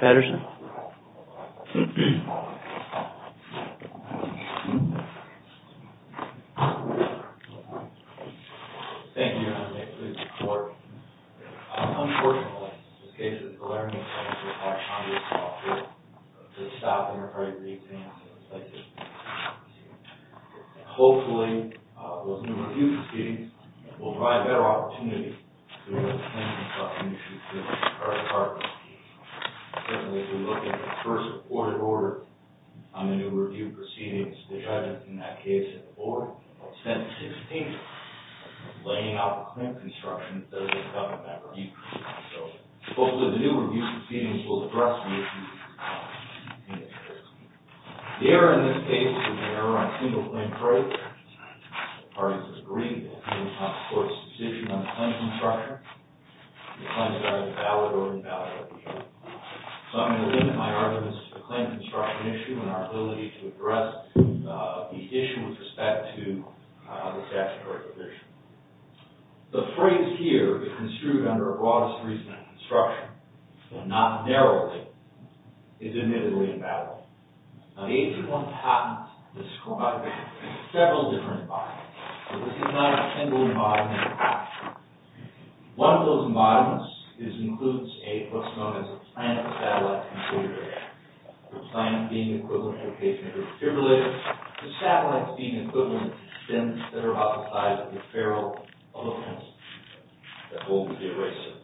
Patterson Thank you for your support. Unfortunately, the learning centers are packed on this fall. They're stopping their great reexaminations. Hopefully, those new refuges feedings will provide better opportunities for our partners to look at the first reported order on the new review proceedings. The judge in that case, at the board, sent a statement laying out the claim construction that doesn't cover that review. Hopefully, the new review proceedings will address the issue. The error in this case is an error on single claim fraud. The parties agree that it is not the court's decision on the claim construction. The claims are either valid or invalid. So, I'm going to limit my arguments to the claim construction issue and our ability to address the issue with respect to the statutory provision. The phrase here is construed under a broadest reason in construction, and not narrowly. It's admittedly invalid. Now, the age of one patent describes several different models, but this is not a single model in construction. One of those models includes what's known as a planet-satellite configurator. The planet being the equivalent location of the defibrillator, the satellites being equivalent to spins that are about the size of the ferrule of a fence that holds the eraser.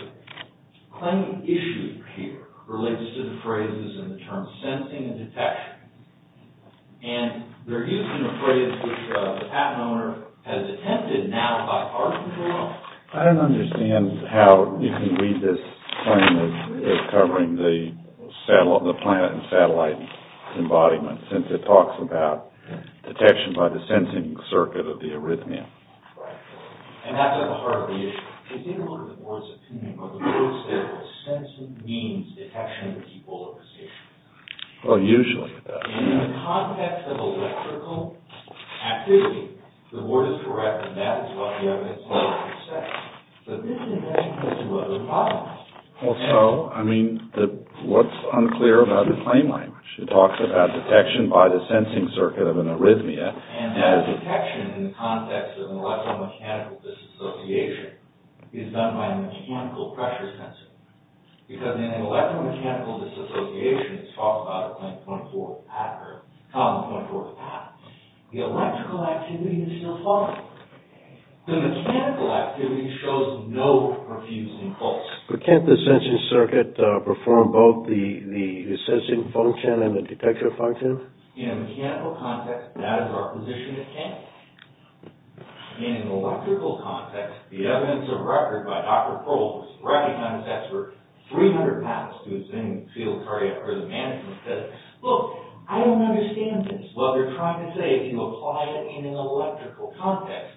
The claim issue here relates to the phrases and the terms sensing and detection. And they're used in a phrase which the patent owner has attempted now by our control. I don't understand how you can read this claim as covering the planet and satellite embodiment since it talks about detection by the sensing circuit of the arrhythmia. And that's at the heart of the issue. I didn't look at the board's opinion, but the board said that sensing means detection with equal appreciation. Well, usually it does. In the context of electrical activity, the board is correct, and that is what the evidence says. But then it has to do with other problems. Well, so, I mean, what's unclear about the claim language? It talks about detection by the sensing circuit of an arrhythmia. And that detection, in the context of an electromechanical disassociation, is done by a mechanical pressure sensor. Because in an electromechanical disassociation, it's talked about in column 24 of the patent, the electrical activity is still following. The mechanical activity shows no refusing pulse. But can't the sensing circuit perform both the sensing function and the detector function? In a mechanical context, that is our position at hand. In an electrical context, the evidence of record by Dr. Pohl, who's a recognizance expert, 300 pounds to his name, in the field of cardiac arrhythmia management, says, look, I don't understand this. Well, they're trying to say if you apply it in an electrical context,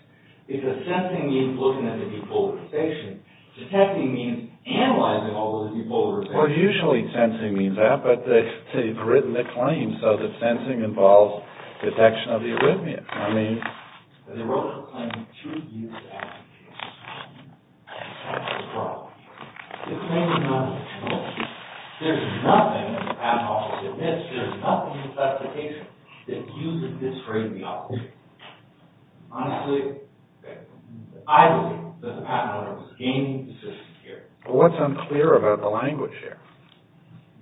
because sensing means looking at the depolarization. Detecting means analyzing all those depolarizations. Well, usually sensing means that, but they've written a claim so that sensing involves detection of the arrhythmia. I mean, they wrote a claim two years after the case. And the claim is wrong. The claim is not a conclusion. There's nothing, as the patent office admits, there's nothing in the specification that uses this for arrhythmiology. Honestly, I believe that the patent office is gaining the system here. Well, what's unclear about the language here?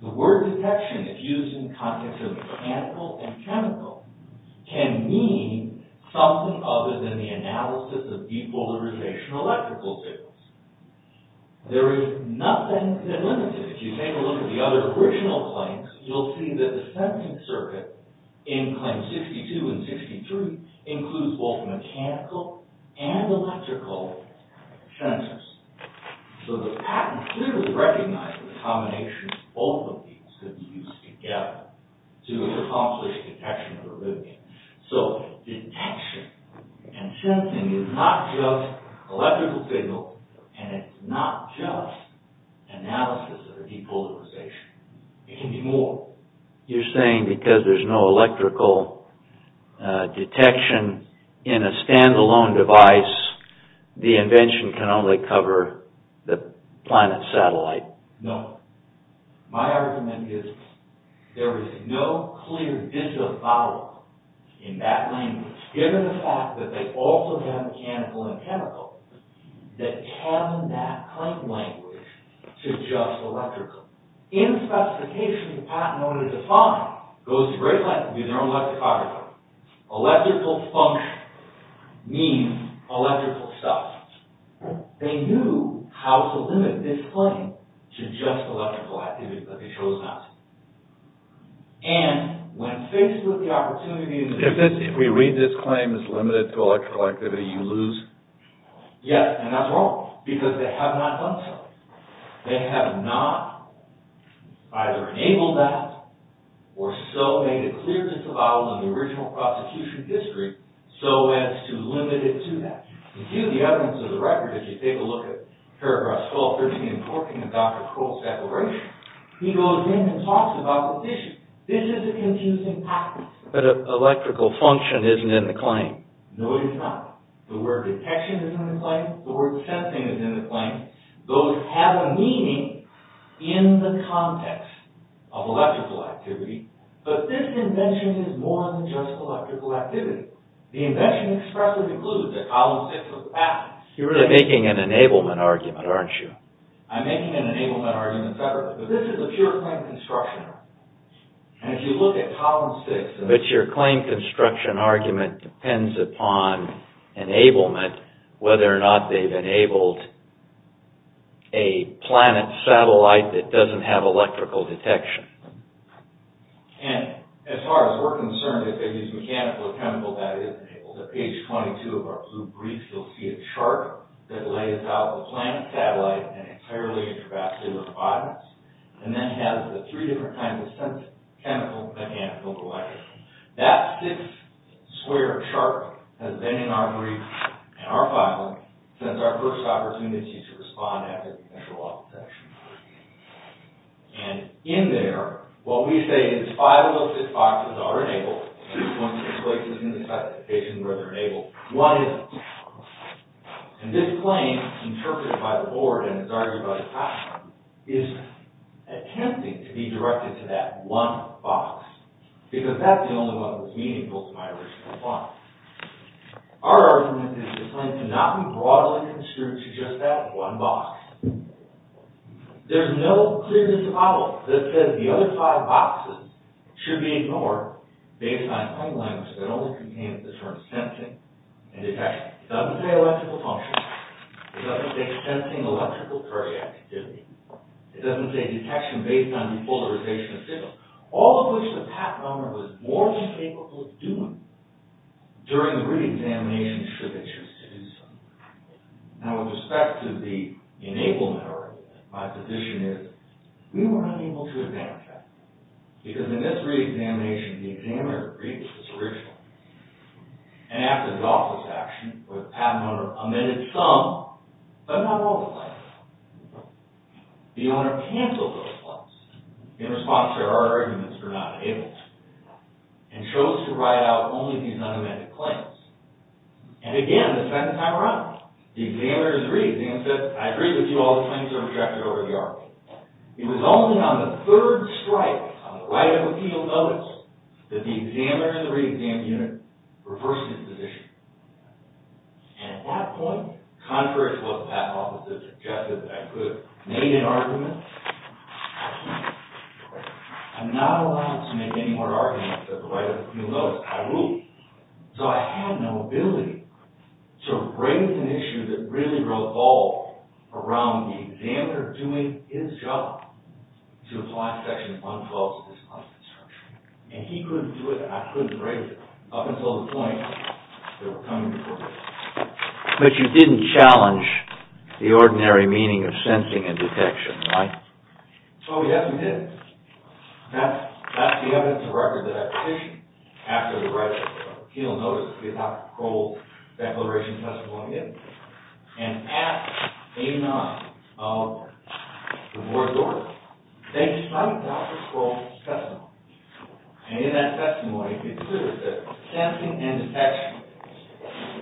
The word detection, if used in context of mechanical and chemical, can mean something other than the analysis of depolarization electrical fields. There is nothing that limits it. If you take a look at the other original claims, you'll see that the sensing circuit in Claim 62 and 63 includes both mechanical and electrical sensors. So the patent clearly recognizes the combination of both of these could be used together to accomplish detection of arrhythmia. So detection and sensing is not just electrical signal and it's not just analysis of depolarization. It can be more. You're saying because there's no electrical detection in a stand-alone device, the invention can only cover the planet's satellite. No. My argument is there is no clear disavowal in that language given the fact that they also have mechanical and chemical that tell that claim language to just electrical. In the specification, the patent owner defined, goes to great lengths to be their own lexicographer, electrical function means electrical stuff. They knew how to limit this claim to just electrical activity, but they chose not to. And when faced with the opportunity... If we read this claim as limited to electrical activity, you lose. Yes, and that's wrong because they have not done so. They have not either enabled that or so made it clear disavowal in the original prosecution history so as to limit it to that. If you view the evidence of the record, if you take a look at paragraphs 12, 13, and 14 of Dr. Crowell's declaration, he goes in and talks about the issue. This is a confusing practice. But electrical function isn't in the claim. No, it is not. The word detection is in the claim. The word sensing is in the claim. Those have a meaning in the context of electrical activity, but this invention is more than just electrical activity. The invention expressly concludes that column six of the patent... You're really making an enablement argument, aren't you? I'm making an enablement argument separately, but this is a pure claim construction. And if you look at column six... But your claim construction argument depends upon enablement, whether or not they've enabled a planet satellite that doesn't have electrical detection. And as far as we're concerned, if they use mechanical or chemical, that is enabled. At page 22 of our blue brief, you'll see a chart that lays out the planet satellite and entirely intravascular bodies, and then has the three different kinds of chemical, mechanical, and electrical. That six-square chart has been in our brief and our filing since our first opportunity to respond after the initial office session. And in there, what we say is five listed boxes are enabled, and there's one that's placed in the classification where they're enabled. One isn't. And this claim, interpreted by the board and it's argued by the patent, is attempting to be directed to that one box, because that's the only one that was meaningful to my original client. Our argument is this claim cannot be broadly construed to just that one box. There's no clear disavowal that says the other five boxes should be ignored based on claim language that only contains the terms sensing and detection. It doesn't say electrical function. It doesn't say sensing electrical cardiac activity. It doesn't say detection based on depolarization of signals. All of which the patent owner was more than capable of doing during the reexamination should they choose to do so. Now, with respect to the enablement argument, my position is we were unable to examine that. Because in this reexamination, the examiner agreed with this original. And after the office action, where the patent owner amended some, but not all the claims, the owner canceled those claims. In response to our arguments for not enabling. And chose to write out only these unamended claims. And again, the second time around, the examiner in the reexam said, I agree with you, all the claims are retracted over the argument. It was only on the third strike, on the right of appeal notice, that the examiner in the reexam unit reversed his position. And at that point, contrary to what the patent officer suggested, I could have made an argument. I'm not allowed to make any more arguments at the right of appeal notice. I rule. So I had no ability to raise an issue that really revolved around the examiner doing his job to apply section 112 to this claims construction. And he couldn't do it, and I couldn't raise it. Up until the point that we're coming to court with it. But you didn't challenge the ordinary meaning of sensing and detection, right? Oh, yes, we did. That's the evidence of record that I petitioned after the right of appeal notice that Dr. Kroll's declaration testimony is. And at 89 of the board order, they cite Dr. Kroll's testimony. And in that testimony, he considers that sensing and detection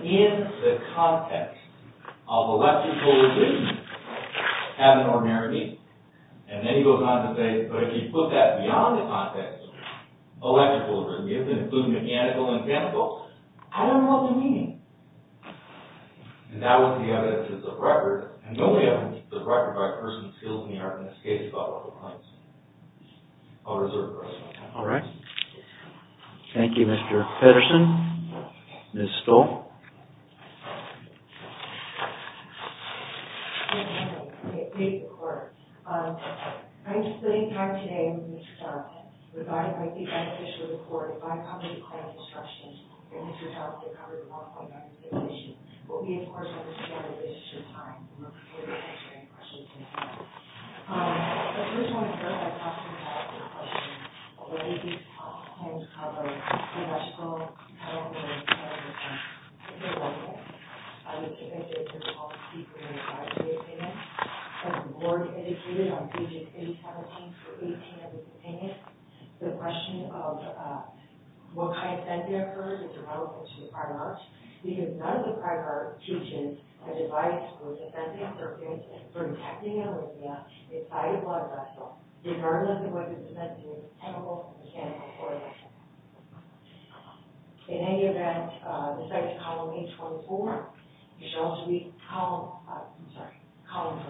in the context of electrical arrhythmia have an ordinary meaning. And then he goes on to say, but if you put that beyond the context of electrical arrhythmias, including mechanical and chemical, I don't know what the meaning. And that was the evidence of the record. And nobody on the record by a person's skills in the arts in this case thought otherwise. I'll reserve the rest of my time. All right. Thank you, Mr. Pedersen. Ms. Stoll. Good morning. Good morning to the court. I'm sitting here today with Mr. Charlton, provided by the beneficiary of the court, by public claims instructions. And Mr. Charlton covered a lot of things on this issue. We'll be, of course, on this agenda in a short time. And we'll be answering questions in a minute. But first, I want to start by talking about the question, whether these public claims cover electrical, chemical, and mechanical arrhythmias. I would say that this is a policy for the advisory opinion. As the board indicated on pages 817 through 18 of this opinion, the question of what kind of sentencing occurs is irrelevant to the prior charge, because none of the prior changes have divided who's offending or protecting an arrhythmia inside a blood vessel, regardless of whether the sentencing is chemical or mechanical or electrical. In any event, the second column, page 24, shall be column, I'm sorry, column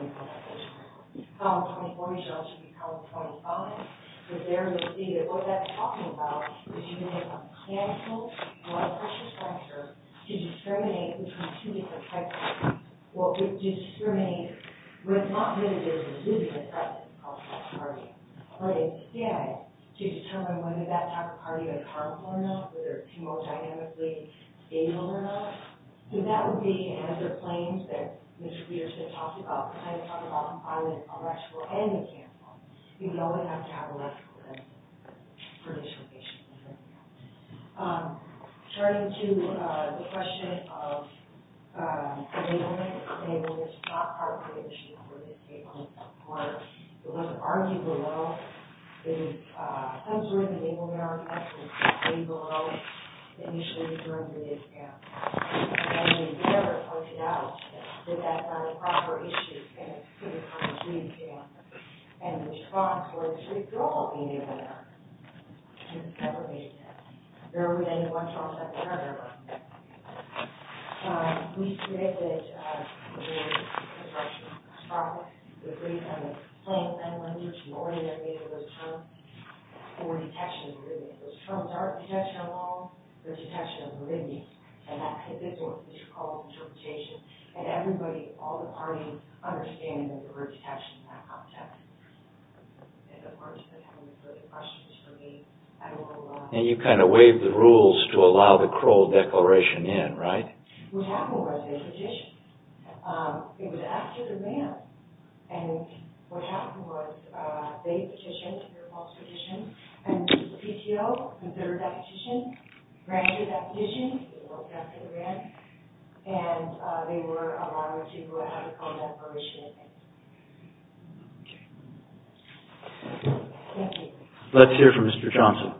24. Column 24 shall be column 25, because there you'll see that what that's talking about is you can have a chemical blood pressure structure to discriminate between two different types of arrhythmias. Well, to discriminate, we're not going to be able to do the assessment of that arrhythmia. But instead, to determine whether that type of arrhythmia is harmful or not, whether it's hemodynamically stable or not. So that would be to answer claims that Mr. Peterson talked about, because I didn't talk about the violence of electrical and mechanical. You know they have to have electrical sentencing for dislocations. Turning to the question of enablement. Enablement is not part of the issue for this case, or it was argued a little. There is some sort of enablement mechanism that came along initially during the mid-camp. And they never pointed out that that's an improper issue and it could have come to the mid-camp. And the response was, we could all be in there. And it never made sense. There was any response that we heard about. We created a structure. We agreed on the claims, and we already made those terms. For detection of arrhythmias. Those terms aren't detection of all, they're detection of arrhythmias. And that's what this is called interpretation. And everybody, all the parties, understand that there were detections in that context. And of course, the question is for me. And you kind of waived the rules to allow the Crowell Declaration in, right? What happened was they petitioned. It was after the grant. And what happened was they petitioned for a false petition. And the PTO considered that petition, granted that petition, it was after the grant. And they were allowed to have a Crowell Declaration in. Let's hear from Mr. Johnson.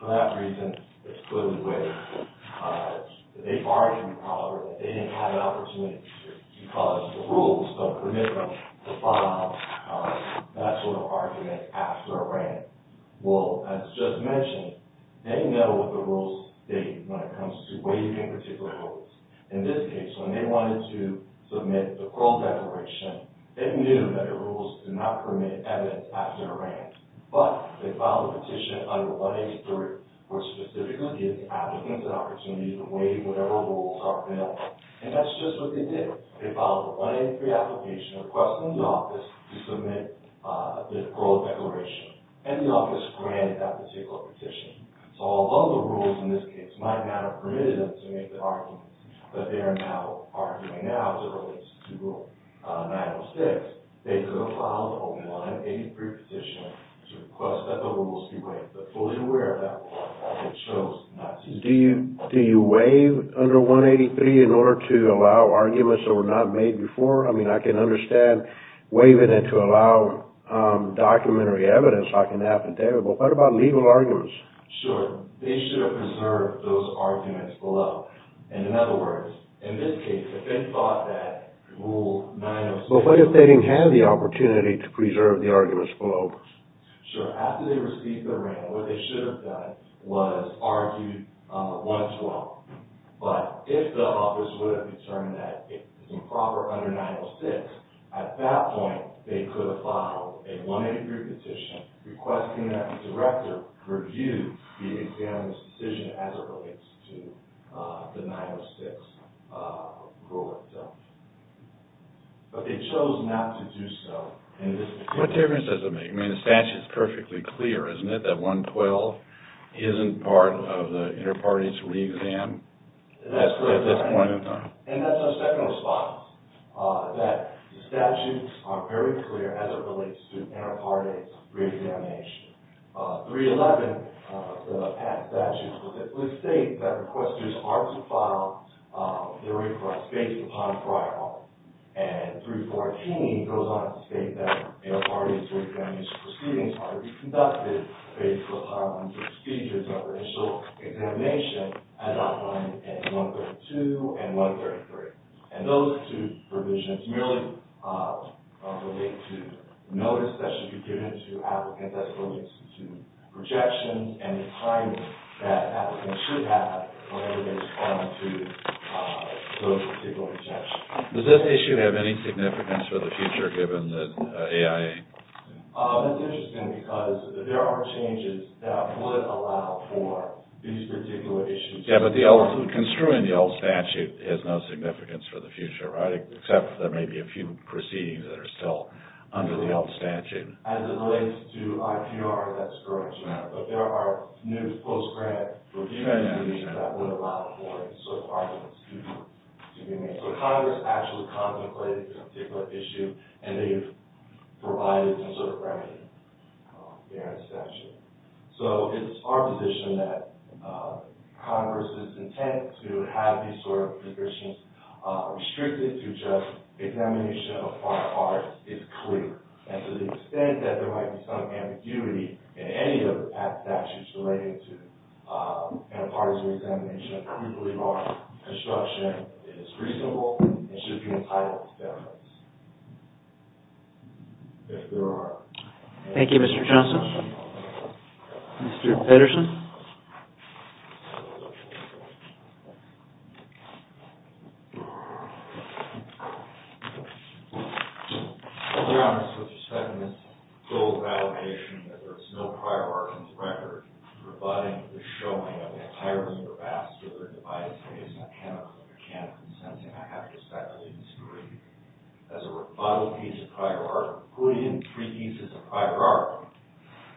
For that reason, it's clearly waived. They argued, probably, that they didn't have an opportunity because the rules don't permit them to file that sort of argument after a grant. Well, as just mentioned, they know what the rules state when it comes to waiving particular rules. In this case, when they wanted to submit the Crowell Declaration, they knew that the rules do not permit evidence after a grant. But they filed a petition under 183, which specifically gives applicants an opportunity to waive whatever rules are available. And that's just what they did. They filed a 183 application requesting the office to submit the Crowell Declaration. And the office granted that particular petition. So although the rules, in this case, might not have permitted them to make the argument that they are now arguing now as it relates to Rule 906, they could have filed a 183 petition to request that the rules be waived. But fully aware of that rule, they chose not to do that. Do you waive under 183 in order to allow arguments that were not made before? I mean, I can understand waiving it to allow documentary evidence. I can have an affidavit. But what about legal arguments? Sure. They should have preserved those arguments below. And in other words, in this case, if they thought that Rule 906... So what if they didn't have the opportunity to preserve the arguments below? Sure. After they received the ring, what they should have done was argued 112. But if the office would have determined that it's improper under 906, at that point, they could have filed a 183 petition requesting that the director review the examiner's decision as it relates to the 906 rule itself. But they chose not to do so. What difference does it make? I mean, the statute is perfectly clear, isn't it? That 112 isn't part of the inter-parties re-exam at this point in time. And that's our second response, that the statutes are very clear as it relates to inter-parties re-examination. 311, the past statute, would state that requesters are to file their request based upon prior art. And 314 goes on to state that inter-parties re-examination proceedings are to be conducted based upon procedures of initial examination as outlined in 132 and 133. And those two provisions merely relate to notice that should be given to applicants as well as to projections and the timing that applicants should have when they respond to those particular exceptions. Does this issue have any significance for the future given the AIA? That's interesting because there are changes that would allow for these particular issues. Yeah, but construing the old statute has no significance for the future, right? Except there may be a few proceedings that are still under the old statute. As it relates to IPR, that's correct. But there are news post-grad that would allow for certain arguments to be made. So Congress actually contemplated this particular issue and they've provided some sort of remedy there in the statute. So it's our position that Congress's intent to have these sort of conditions restricted to just examination of prior art is clear. And to the extent that there might be some ambiguity in any of the past statutes relating to antipartisan examination, we believe our instruction is reasonable and should be entitled to deference. If there are. Thank you, Mr. Johnson. Mr. Pedersen. I'm just expecting this full validation that there's no prior art in this record providing the showing of the entirety of the past whether in a biased way, it's not chemical, mechanical, or sensing. I have to expect students to read as a rebuttal piece of prior art including three pieces of prior art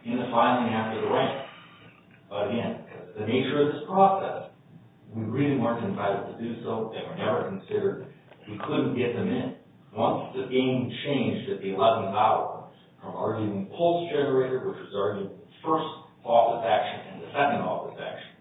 in the filing after the rank. But again, the nature of this process we really weren't invited to do so and were never considered. We couldn't get them in. Once the game changed at the 11th hour from arguing pulse generator, which was arguing first office action and the second office action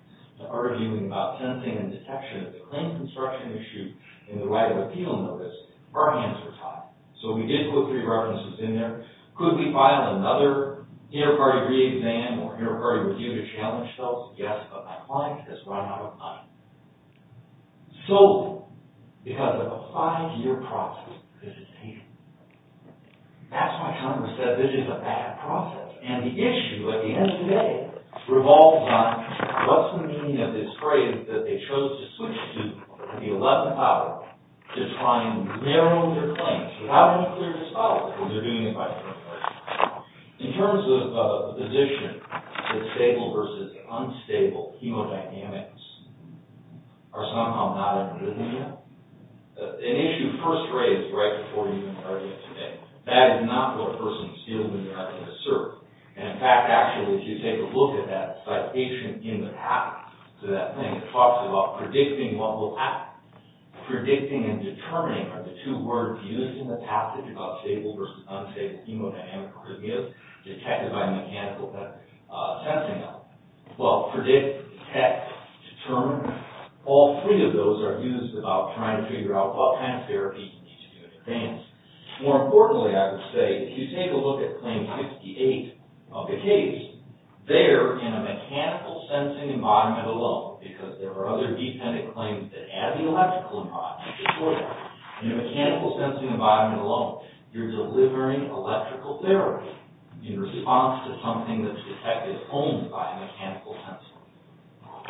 to arguing about sensing and detection of the claim construction issue in the right of appeal notice, our hands were tied. So we did put three references in there. Could we file another hierarchy re-exam or hierarchy review to challenge those? Yes, but my client has run out of money. Solely because of a five-year process of visitation. That's why Congress said this is a bad process. And the issue at the end of the day revolves on what's the meaning of this phrase that they chose to switch to at the 11th hour to try and narrow their claims. How do you clear this file when they're doing it by the 11th hour? In terms of the position that stable versus unstable chemodynamics are somehow not included in that, an issue first raised right before we even started today. That is not what persons feel when they're not in the service. And in fact, actually, if you take a look at that citation in the past, so that thing that talks about predicting what will happen. Predicting and determining are the two words used in the passage about stable versus unstable hemodynamic arrhythmias detected by mechanical sensing. Well, predict, detect, determine, all three of those are used about trying to figure out what kind of therapy you need to do in advance. More importantly, I would say if you take a look at claim 58 of the case, there in a mechanical sensing environment alone, because there are other dependent claims that add the electrical environment to the soil, in a mechanical sensing environment alone, you're delivering electrical therapy in response to something that's detected only by a mechanical sensor.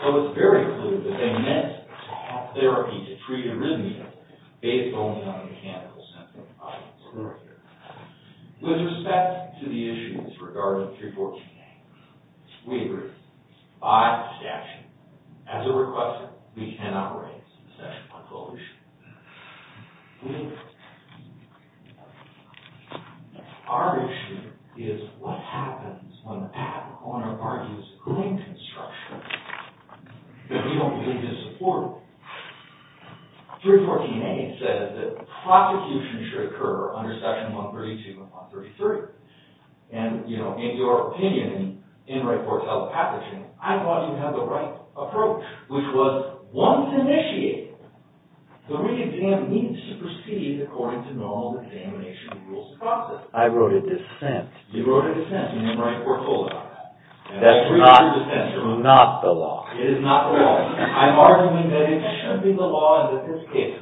So it's very clear that they meant to have therapy to treat arrhythmias based only on mechanical sensing With respect to the issues regarding 314A, we agree, by statute, as a requester, we cannot raise the statute on this whole issue. Our issue is what happens when Pat O'Connor argues a claim construction that we don't really disagree with. 314A says that prosecution should occur under section 132 of 133. And, you know, in your opinion, in your report telepathically, I thought you had the right approach, which was, once initiated, the re-exam needs to proceed according to normal examination rules and processes. I wrote a dissent. You wrote a dissent and in your report you're told about that. That's not the law. It is not the law. I'm arguing that it should be the law and that this case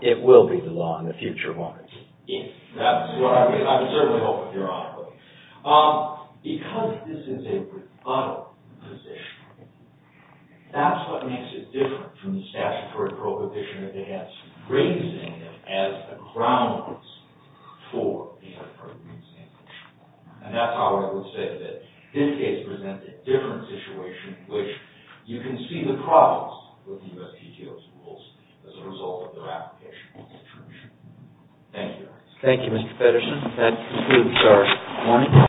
It will be the law in the future, won't it? That's what I would certainly hope, theoretically. Because this is a rebuttal position, that's what makes it different from the statutory proposition that they have raising it as a grounds for the deferred re-examination. And that's how I would say that this case presents a different situation, which you can see the problems with the U.S. PTO's rules as a result of their application to the Church. Thank you. Thank you, Mr. Feddersen. That concludes our morning.